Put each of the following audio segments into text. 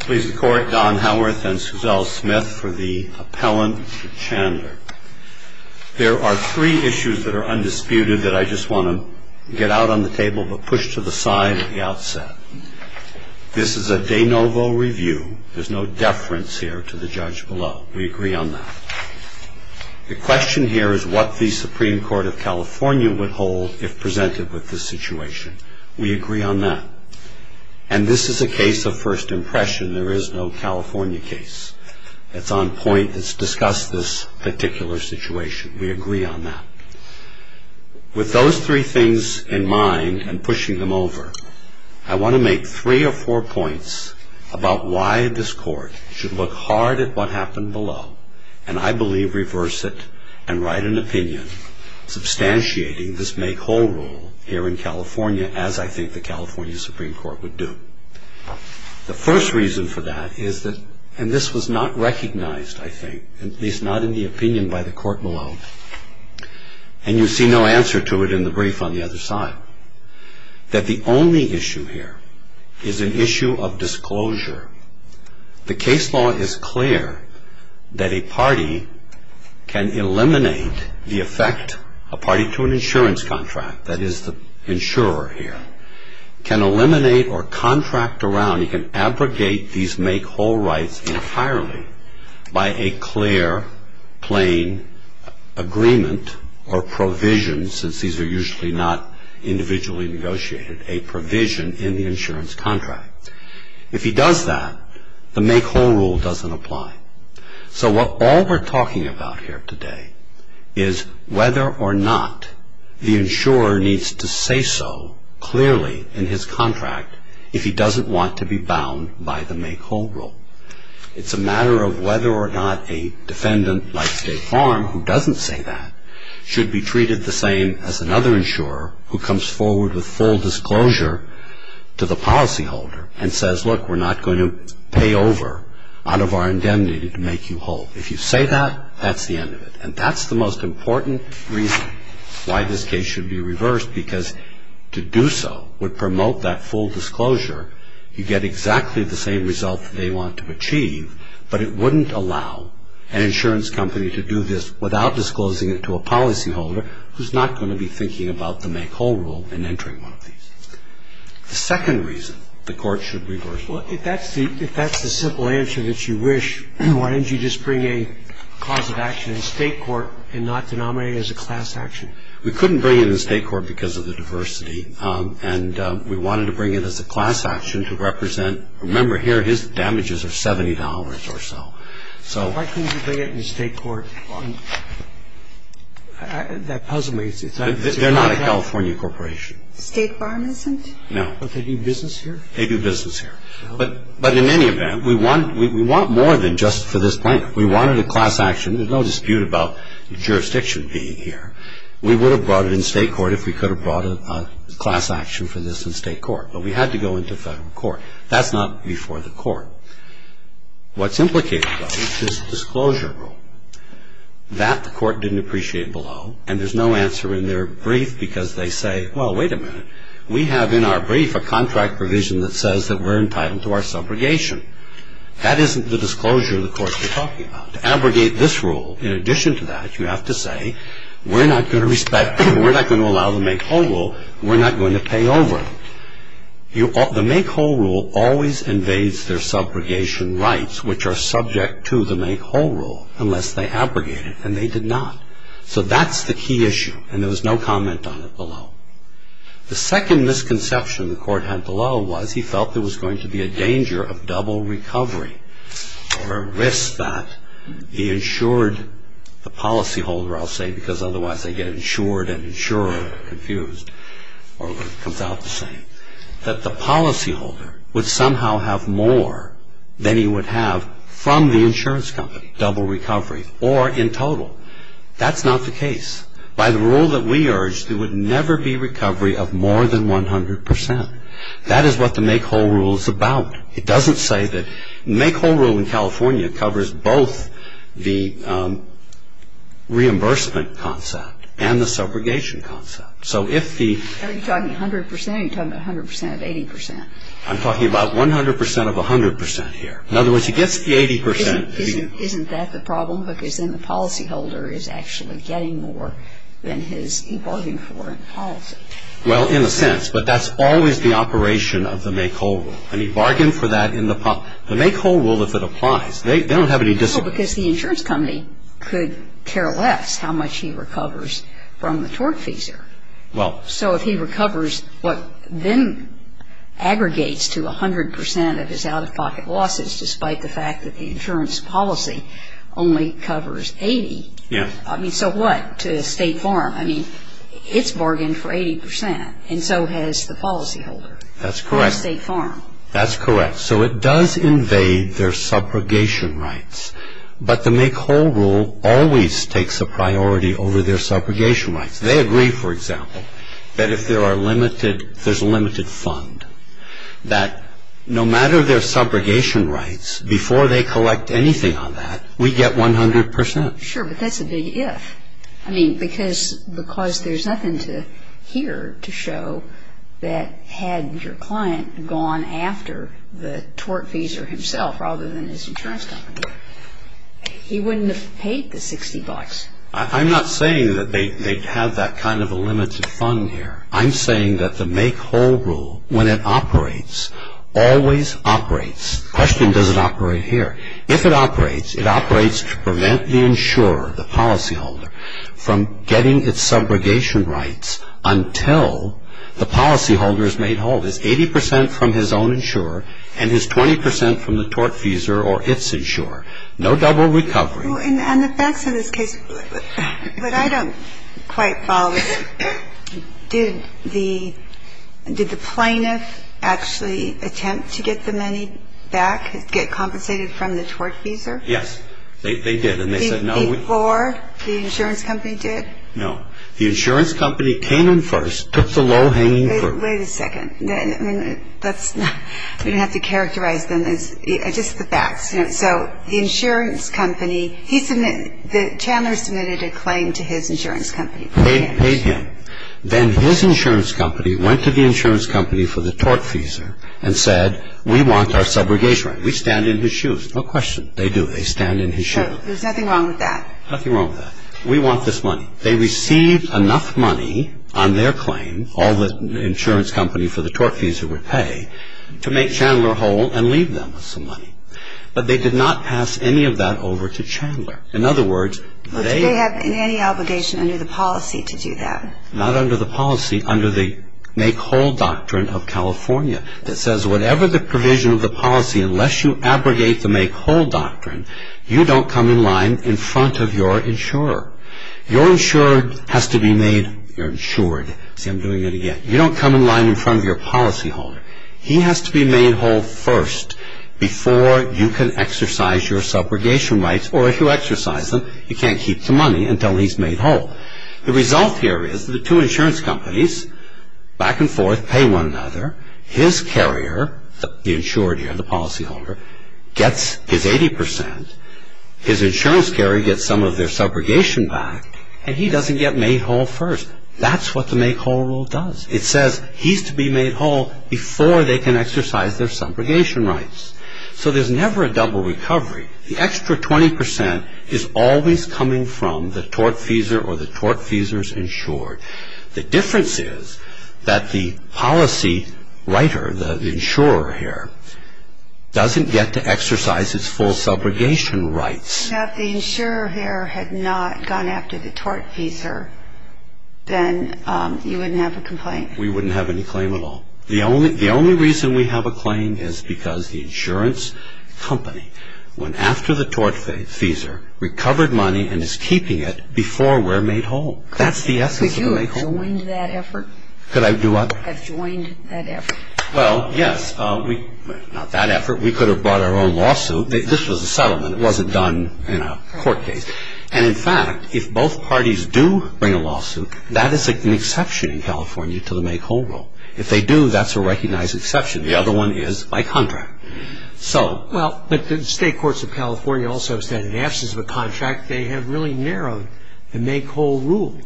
Please the Court, Don Howarth and Suzelle Smith for the appellant Chandler. There are three issues that are undisputed that I just want to get out on the table but push to the side at the outset. This is a de novo review. There's no deference here to the judge below. We agree on that. The question here is what the Supreme Court of California would hold if presented with this situation. We agree on that. And this is a case of first impression. There is no California case. It's on point. It's discussed this particular situation. We agree on that. With those three things in mind and pushing them over, I want to make three or four points about why this court should look hard at what happened below and I believe reverse it and write an opinion substantiating this make whole rule here in California as I think the California Supreme Court would do. The first reason for that is that, and this was not recognized, I think, at least not in the opinion by the court below, and you see no answer to it in the brief on the other side, that the only issue here is an issue of disclosure. The case law is clear that a party can eliminate the effect, a party to an insurance contract, that is the insurer here, can eliminate or contract around, you can abrogate these make whole rights entirely by a clear plain agreement or provision since these are usually not individually negotiated, a provision in the insurance contract. If he does that, the make whole rule doesn't apply. So what all we're talking about here today is whether or not the insurer needs to say so clearly in his contract if he doesn't want to be bound by the make whole rule. It's a matter of whether or not a defendant like State Farm who doesn't say that should be treated the same as another insurer who comes forward with full disclosure to the policyholder and says, look, we're not going to pay over out of our indemnity to make you whole. If you say that, that's the end of it. And that's the most important reason why this case should be reversed because to do so would promote that full disclosure. The second reason the Court should reverse it is that it would not allow an insurance company to do this without disclosing it to a policyholder who's not going to be thinking about the make whole rule and entering one of these. The second reason the Court should reverse it. Well, if that's the simple answer that you wish, why didn't you just bring a cause of action in State court and not denominate it as a class action? We couldn't bring it in State court because of the diversity. And we wanted to bring it as a class action to represent. Remember, here his damages are $70 or so. So. Why couldn't you bring it in State court? That puzzles me. They're not a California corporation. State Farm isn't? No. But they do business here? They do business here. But in any event, we want more than just for this plaintiff. We wanted a class action. There's no dispute about jurisdiction being here. We would have brought it in State court if we could have brought a class action for this in State court. But we had to go into federal court. That's not before the court. What's implicated, though, is this disclosure rule. That the Court didn't appreciate below. And there's no answer in their brief because they say, well, wait a minute. We have in our brief a contract provision that says that we're entitled to our subrogation. That isn't the disclosure the Court's been talking about. To abrogate this rule, in addition to that, you have to say, we're not going to allow the make whole rule. We're not going to pay over. The make whole rule always invades their subrogation rights, which are subject to the make whole rule, unless they abrogate it. And they did not. So that's the key issue. And there was no comment on it below. The second misconception the Court had below was he felt there was going to be a danger of double recovery. Or a risk that the insured, the policyholder, I'll say, because otherwise they get insured and insurer confused. Or whatever comes out to say. That the policyholder would somehow have more than he would have from the insurance company. Double recovery. Or in total. That's not the case. By the rule that we urged, there would never be recovery of more than 100%. That is what the make whole rule is about. It doesn't say that. The make whole rule in California covers both the reimbursement concept and the subrogation concept. So if the. Are you talking 100% or are you talking about 100% of 80%? I'm talking about 100% of 100% here. In other words, he gets the 80%. Isn't that the problem? Because then the policyholder is actually getting more than he's bargaining for in policy. Well, in a sense. But that's always the operation of the make whole rule. And he bargained for that in the. The make whole rule, if it applies. They don't have any. Because the insurance company could care less how much he recovers from the tortfeasor. Well. So if he recovers what then aggregates to 100% of his out-of-pocket losses, despite the fact that the insurance policy only covers 80. Yeah. I mean, so what? To a state farm. I mean, it's bargained for 80%. And so has the policyholder. That's correct. To a state farm. That's correct. So it does invade their subrogation rights. But the make whole rule always takes a priority over their subrogation rights. They agree, for example, that if there are limited. There's a limited fund. That no matter their subrogation rights, before they collect anything on that, we get 100%. Sure, but that's a big if. I mean, because there's nothing here to show that had your client gone after the tortfeasor himself, rather than his insurance company, he wouldn't have paid the 60 bucks. I'm not saying that they have that kind of a limited fund here. I'm saying that the make whole rule, when it operates, always operates. The question doesn't operate here. If it operates, it operates to prevent the insurer, the policyholder, from getting its subrogation rights until the policyholder is made whole. It's 80% from his own insurer, and it's 20% from the tortfeasor or its insurer. No double recovery. Well, and the facts of this case, what I don't quite follow is did the plaintiff actually attempt to get the money back, get compensated from the tortfeasor? Yes, they did, and they said no. Before the insurance company did? No. The insurance company came in first, took the low-hanging fruit. Wait a second. I mean, that's not, we don't have to characterize them as, just the facts. So the insurance company, the Chandler submitted a claim to his insurance company. Paid him. Then his insurance company went to the insurance company for the tortfeasor and said, we want our subrogation rights. We stand in his shoes. No question. They do. They stand in his shoes. There's nothing wrong with that. Nothing wrong with that. We want this money. They received enough money on their claim, all the insurance company for the tortfeasor would pay, to make Chandler whole and leave them with some money. But they did not pass any of that over to Chandler. In other words, they… Well, do they have any obligation under the policy to do that? Not under the policy. Under the make-whole doctrine of California that says whatever the provision of the policy, unless you abrogate the make-whole doctrine, you don't come in line in front of your insurer. Your insurer has to be made, you're insured. See, I'm doing it again. You don't come in line in front of your policyholder. He has to be made whole first before you can exercise your subrogation rights. Or if you exercise them, you can't keep the money until he's made whole. The result here is the two insurance companies, back and forth, pay one another. His carrier, the insured here, the policyholder, gets his 80%. His insurance carrier gets some of their subrogation back, and he doesn't get made whole first. That's what the make-whole rule does. It says he's to be made whole before they can exercise their subrogation rights. So there's never a double recovery. The extra 20% is always coming from the tortfeasor or the tortfeasor's insured. The difference is that the policy writer, the insurer here, doesn't get to exercise his full subrogation rights. If the insurer here had not gone after the tortfeasor, then you wouldn't have a complaint. We wouldn't have any claim at all. The only reason we have a claim is because the insurance company went after the tortfeasor, recovered money, and is keeping it before we're made whole. That's the essence of the make-whole rule. Could you have joined that effort? Could I do what? Have joined that effort. Well, yes. Not that effort. We could have brought our own lawsuit. This was a settlement. It wasn't done in a court case. And, in fact, if both parties do bring a lawsuit, that is an exception in California to the make-whole rule. If they do, that's a recognized exception. The other one is by contract. Well, but the state courts of California also said in absence of a contract, they have really narrowed the make-whole rule.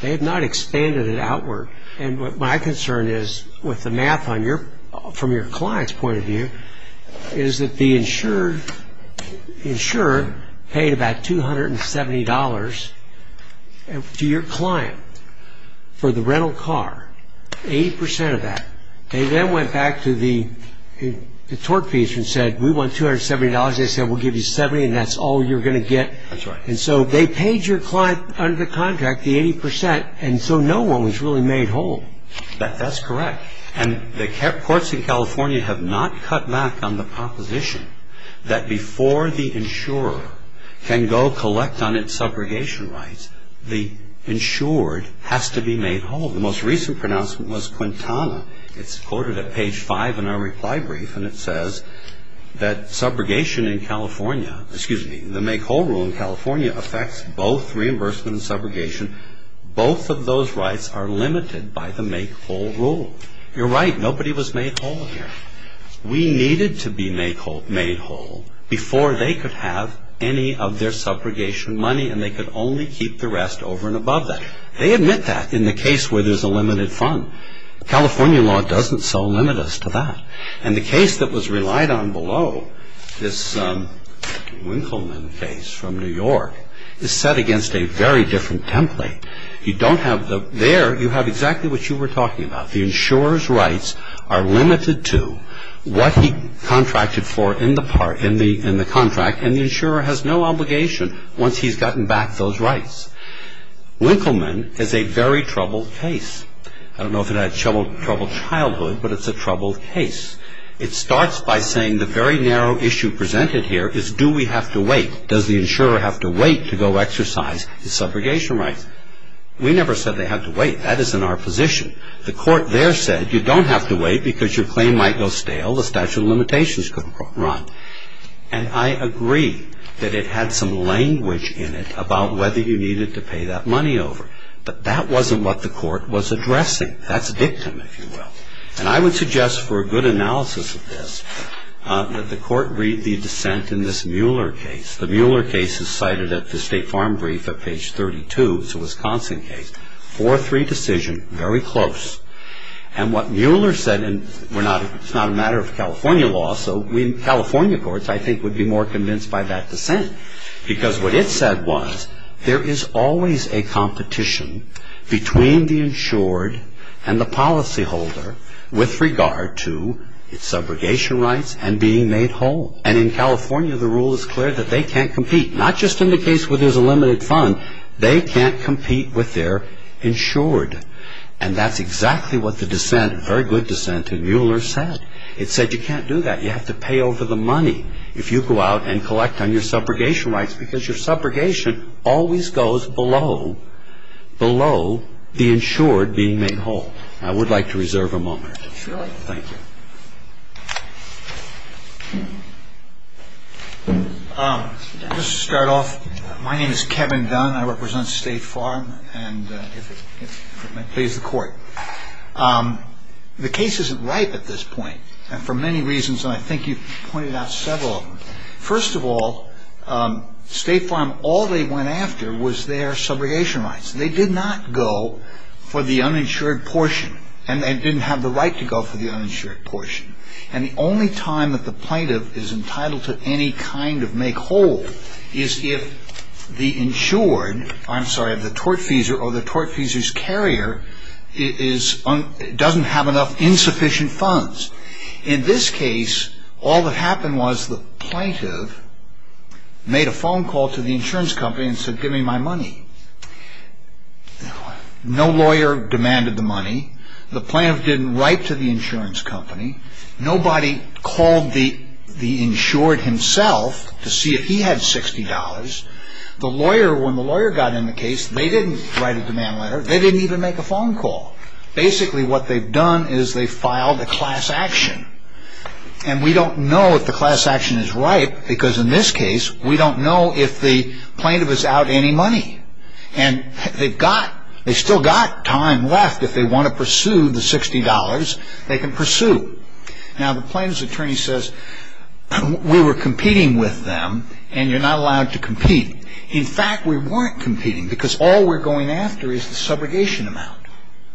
They have not expanded it outward. And what my concern is with the math from your client's point of view is that the insured paid about $270 to your client for the rental car, 80% of that. They then went back to the tortfeasor and said, we want $270. They said, we'll give you $70, and that's all you're going to get. That's right. And so they paid your client under the contract the 80%, and so no one was really made whole. That's correct. And the courts in California have not cut back on the proposition that before the insurer can go collect on its subrogation rights, the insured has to be made whole. The most recent pronouncement was Quintana. It's quoted at page 5 in our reply brief, and it says that subrogation in California, excuse me, the make-whole rule in California affects both reimbursement and subrogation. Both of those rights are limited by the make-whole rule. You're right. Nobody was made whole here. We needed to be made whole before they could have any of their subrogation money, and they could only keep the rest over and above that. They admit that in the case where there's a limited fund. California law doesn't so limit us to that. And the case that was relied on below, this Winkelman case from New York, is set against a very different template. You don't have the – there, you have exactly what you were talking about. The insurer's rights are limited to what he contracted for in the contract, and the insurer has no obligation once he's gotten back those rights. Winkelman is a very troubled case. I don't know if it had troubled childhood, but it's a troubled case. It starts by saying the very narrow issue presented here is do we have to wait? Does the insurer have to wait to go exercise his subrogation rights? We never said they have to wait. That is in our position. The court there said you don't have to wait because your claim might go stale, the statute of limitations could run. And I agree that it had some language in it about whether you needed to pay that money over. But that wasn't what the court was addressing. That's dictum, if you will. And I would suggest for a good analysis of this that the court read the dissent in this Mueller case. The Mueller case is cited at the State Farm Brief at page 32. It's a Wisconsin case. 4-3 decision, very close. And what Mueller said, and it's not a matter of California law, so California courts I think would be more convinced by that dissent. Because what it said was there is always a competition between the insured and the policyholder with regard to subrogation rights and being made whole. And in California the rule is clear that they can't compete, not just in the case where there's a limited fund. They can't compete with their insured. And that's exactly what the dissent, a very good dissent in Mueller said. It said you can't do that. You have to pay over the money if you go out and collect on your subrogation rights because your subrogation always goes below the insured being made whole. I would like to reserve a moment. Thank you. Just to start off, my name is Kevin Dunn. I represent State Farm. And if it may please the court, the case isn't ripe at this point, and for many reasons, and I think you've pointed out several of them. First of all, State Farm, all they went after was their subrogation rights. They did not go for the uninsured portion, and they didn't have the right to go for the uninsured portion. And the only time that the plaintiff is entitled to any kind of make whole is if the tortfeasor or the tortfeasor's carrier doesn't have enough insufficient funds. In this case, all that happened was the plaintiff made a phone call to the insurance company and said give me my money. No lawyer demanded the money. The plaintiff didn't write to the insurance company. Nobody called the insured himself to see if he had $60. When the lawyer got in the case, they didn't write a demand letter. They didn't even make a phone call. Basically what they've done is they've filed a class action, and we don't know if the class action is ripe because in this case, we don't know if the plaintiff is out any money. And they've got, they've still got time left. If they want to pursue the $60, they can pursue. Now, the plaintiff's attorney says we were competing with them, and you're not allowed to compete. In fact, we weren't competing because all we're going after is the subrogation amount.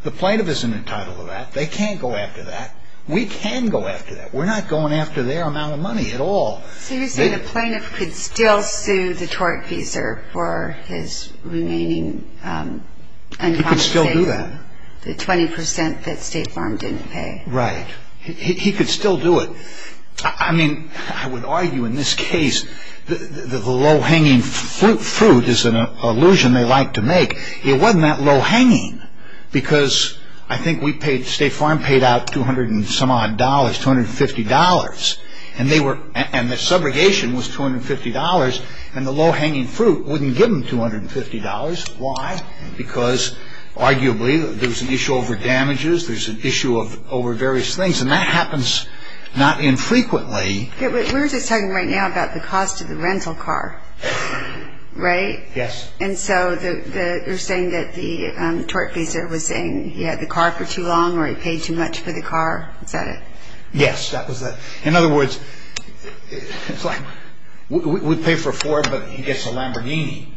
The plaintiff isn't entitled to that. They can't go after that. We can go after that. We're not going after their amount of money at all. So you're saying the plaintiff could still sue the tortfeasor for his remaining uncompensated? He could still do that. The 20% that State Farm didn't pay. Right. He could still do it. I mean, I would argue in this case, the low-hanging fruit is an allusion they like to make. It wasn't that low-hanging because I think we paid, State Farm paid out 200 and some odd dollars, $250. And the subrogation was $250, and the low-hanging fruit wouldn't give them $250. Why? Because arguably there's an issue over damages. There's an issue over various things, and that happens not infrequently. We're just talking right now about the cost of the rental car, right? Yes. And so you're saying that the tortfeasor was saying he had the car for too long or he paid too much for the car. Is that it? Yes, that was it. In other words, it's like we'd pay for a Ford, but he gets a Lamborghini,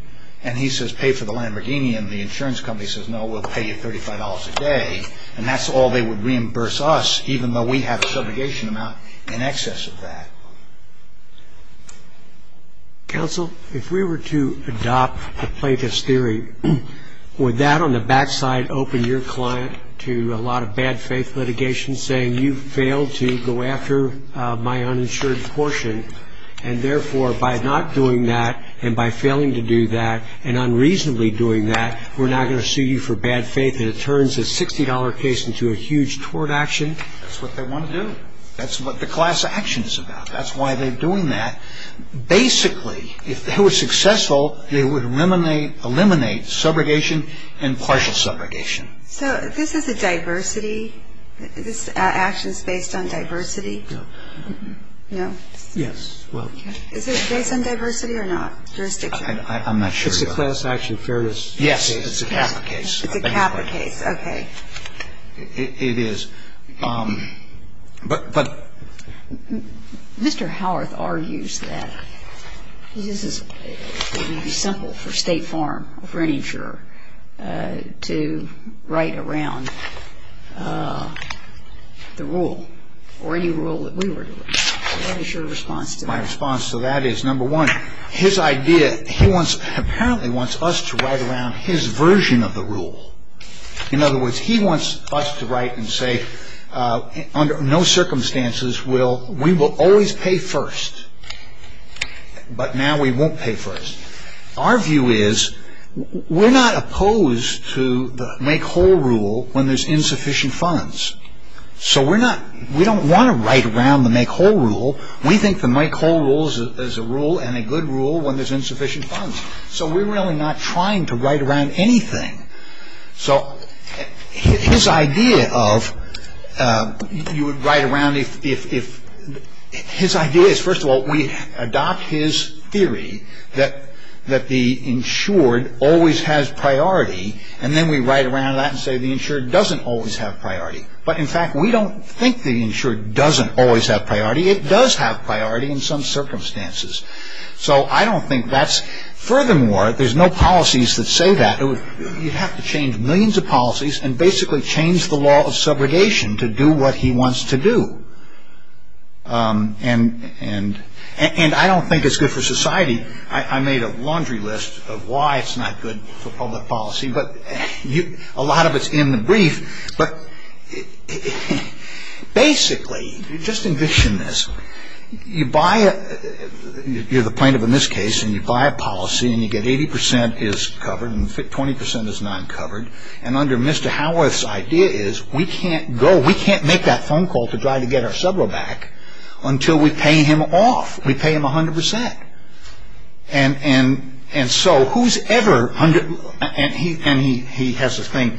and he says pay for the Lamborghini, and the insurance company says, no, we'll pay you $35 a day, and that's all they would reimburse us even though we have a subrogation amount in excess of that. Counsel, if we were to adopt the plaintiff's theory, would that on the back side open your client to a lot of bad faith litigation, saying you failed to go after my uninsured portion, and therefore by not doing that and by failing to do that and unreasonably doing that, we're now going to sue you for bad faith, and it turns a $60 case into a huge tort action? That's what they want to do. That's what the class action is about. That's why they're doing that. Basically, if they were successful, they would eliminate subrogation and partial subrogation. So this is a diversity? This action is based on diversity? No. No? Yes. Is it based on diversity or not, jurisdiction? I'm not sure. It's a class action. Fairness. Yes, it's a Kappa case. It's a Kappa case. Okay. It is. Mr. Howarth argues that it would be simple for State Farm or for any insurer to write around the rule or any rule that we were to write. What is your response to that? My response to that is, number one, his idea, he apparently wants us to write around his version of the rule. In other words, he wants us to write and say, under no circumstances, we will always pay first. But now we won't pay first. Our view is, we're not opposed to the make whole rule when there's insufficient funds. So we don't want to write around the make whole rule. We think the make whole rule is a rule and a good rule when there's insufficient funds. So we're really not trying to write around anything. So his idea of, you would write around if, his idea is, first of all, we adopt his theory that the insured always has priority, and then we write around that and say the insured doesn't always have priority. But, in fact, we don't think the insured doesn't always have priority. It does have priority in some circumstances. So I don't think that's, furthermore, there's no policies that say that. You have to change millions of policies and basically change the law of subrogation to do what he wants to do. And I don't think it's good for society. I made a laundry list of why it's not good for public policy, but a lot of it's in the brief. But basically, just envision this. You buy a, you're the plaintiff in this case, and you buy a policy, and you get 80% is covered and 20% is not covered. And under Mr. Howarth's idea is we can't go, we can't make that phone call to try to get our subro back until we pay him off. We pay him 100%. And so who's ever, and he has this thing,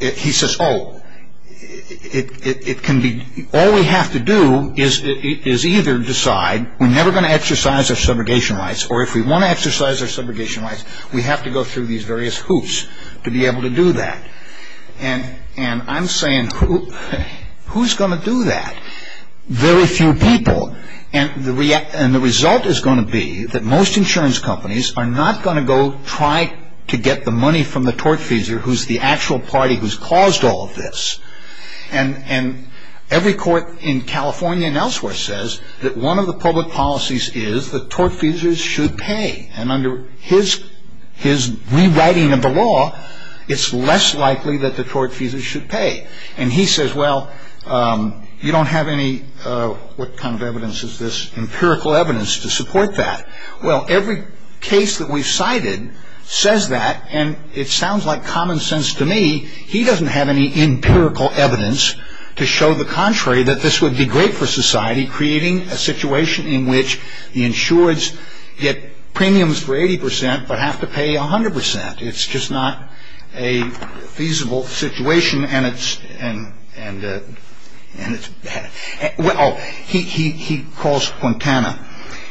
he says, oh, it can be, all we have to do is either decide we're never going to exercise our subrogation rights or if we want to exercise our subrogation rights, we have to go through these various hoops to be able to do that. And I'm saying, who's going to do that? Very few people. And the result is going to be that most insurance companies are not going to go try to get the money from the tortfeasor, who's the actual party who's caused all of this. And every court in California and elsewhere says that one of the public policies is that tortfeasors should pay. And under his rewriting of the law, it's less likely that the tortfeasors should pay. And he says, well, you don't have any, what kind of evidence is this, empirical evidence to support that. Well, every case that we've cited says that, and it sounds like common sense to me, he doesn't have any empirical evidence to show the contrary, that this would be great for society, would be creating a situation in which the insureds get premiums for 80% but have to pay 100%. It's just not a feasible situation and it's bad. Oh, he calls Quintana.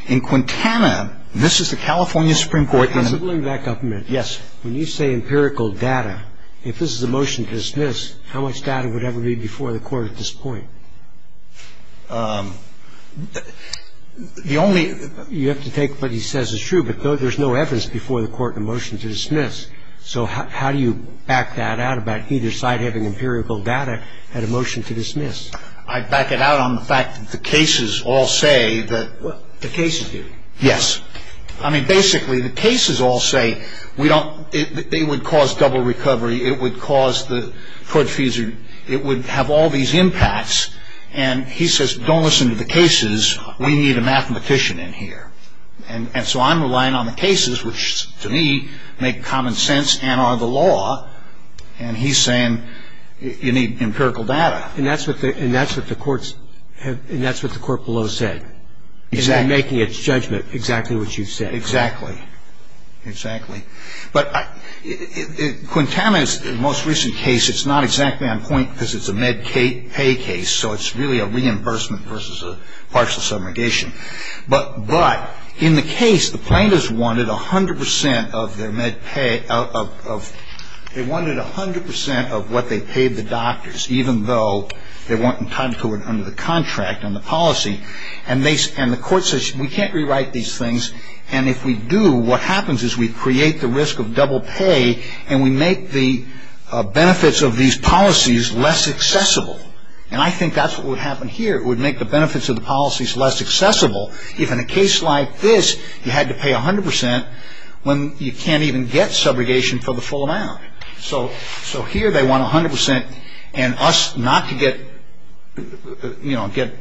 In Quintana, this is the California Supreme Court. Let me bring that up a minute. Yes. The question is, how much data would ever be before the court at this point? The only you have to take what he says is true, but there's no evidence before the court in a motion to dismiss. So how do you back that out about either side having empirical data and a motion to dismiss? I back it out on the fact that the cases all say that. The cases do? Yes. I mean, basically, the cases all say they would cause double recovery. It would have all these impacts. And he says, don't listen to the cases. We need a mathematician in here. And so I'm relying on the cases, which, to me, make common sense and are the law. And he's saying you need empirical data. And that's what the court below said. And they're making its judgment exactly what you've said. Exactly. Exactly. But Quintana's most recent case, it's not exactly on point because it's a med pay case, so it's really a reimbursement versus a partial subrogation. But in the case, the plaintiffs wanted 100 percent of their med pay of they wanted 100 percent of what they paid the doctors, even though they weren't entitled to it under the contract and the policy. And the court says we can't rewrite these things. And if we do, what happens is we create the risk of double pay, and we make the benefits of these policies less accessible. And I think that's what would happen here. It would make the benefits of the policies less accessible if, in a case like this, you had to pay 100 percent when you can't even get subrogation for the full amount. So here they want 100 percent and us not to get, you know, get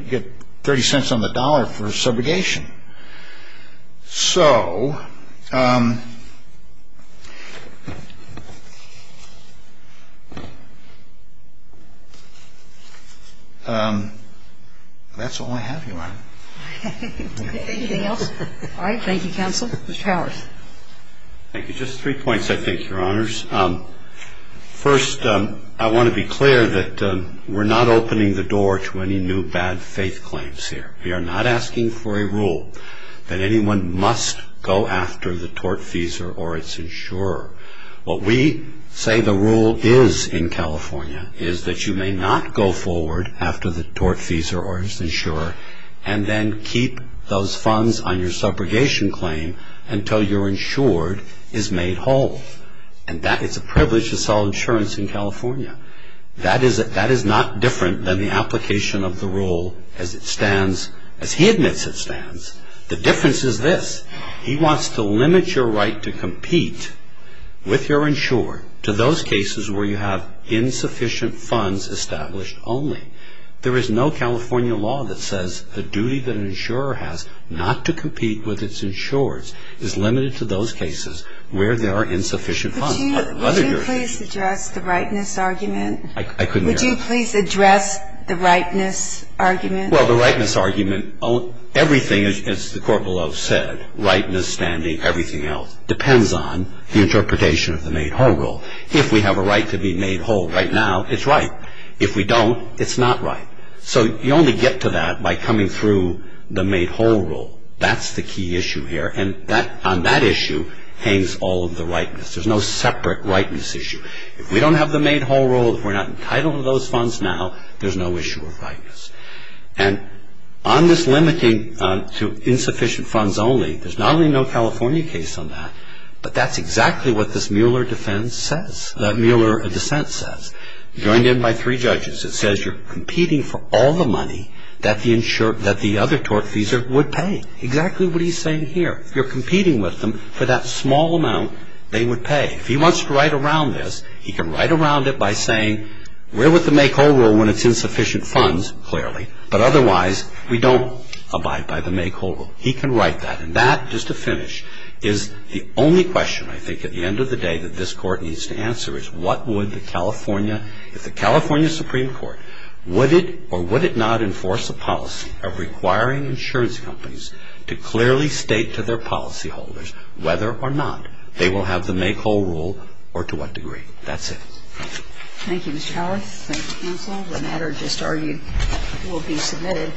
30 cents on the dollar for subrogation. So that's all I have, Your Honor. Anything else? All right. Thank you, counsel. Mr. Howard. Thank you. Just three points, I think, Your Honors. First, I want to be clear that we're not opening the door to any new bad faith claims here. We are not asking for a rule that anyone must go after the tortfeasor or its insurer. What we say the rule is in California is that you may not go forward after the tortfeasor or its insurer and then keep those funds on your subrogation claim until your insured is made whole. And it's a privilege to sell insurance in California. That is not different than the application of the rule as it stands, as he admits it stands. The difference is this. He wants to limit your right to compete with your insured to those cases where you have insufficient funds established only. There is no California law that says a duty that an insurer has not to compete with its insureds is limited to those cases where there are insufficient funds. Would you please address the rightness argument? I couldn't hear you. Would you please address the rightness argument? Well, the rightness argument, everything as the court below said, rightness, standing, everything else, depends on the interpretation of the made whole rule. If we have a right to be made whole right now, it's right. If we don't, it's not right. So you only get to that by coming through the made whole rule. That's the key issue here, and on that issue hangs all of the rightness. There's no separate rightness issue. If we don't have the made whole rule, if we're not entitled to those funds now, there's no issue of rightness. And on this limiting to insufficient funds only, there's not only no California case on that, but that's exactly what this Mueller defense says, that Mueller dissent says. Joined in by three judges. It says you're competing for all the money that the other tortfeasor would pay. Exactly what he's saying here. You're competing with them for that small amount they would pay. If he wants to write around this, he can write around it by saying, we're with the made whole rule when it's insufficient funds, clearly, but otherwise we don't abide by the made whole rule. He can write that. And that, just to finish, is the only question, I think, at the end of the day, that this Court needs to answer is what would the California, if the California Supreme Court, would it or would it not enforce a policy of requiring insurance companies to clearly state to their policyholders whether or not they will have the made whole rule or to what degree. That's it. Thank you. Thank you, Mr. Howard. Thank you, counsel. The matter just argued will be submitted.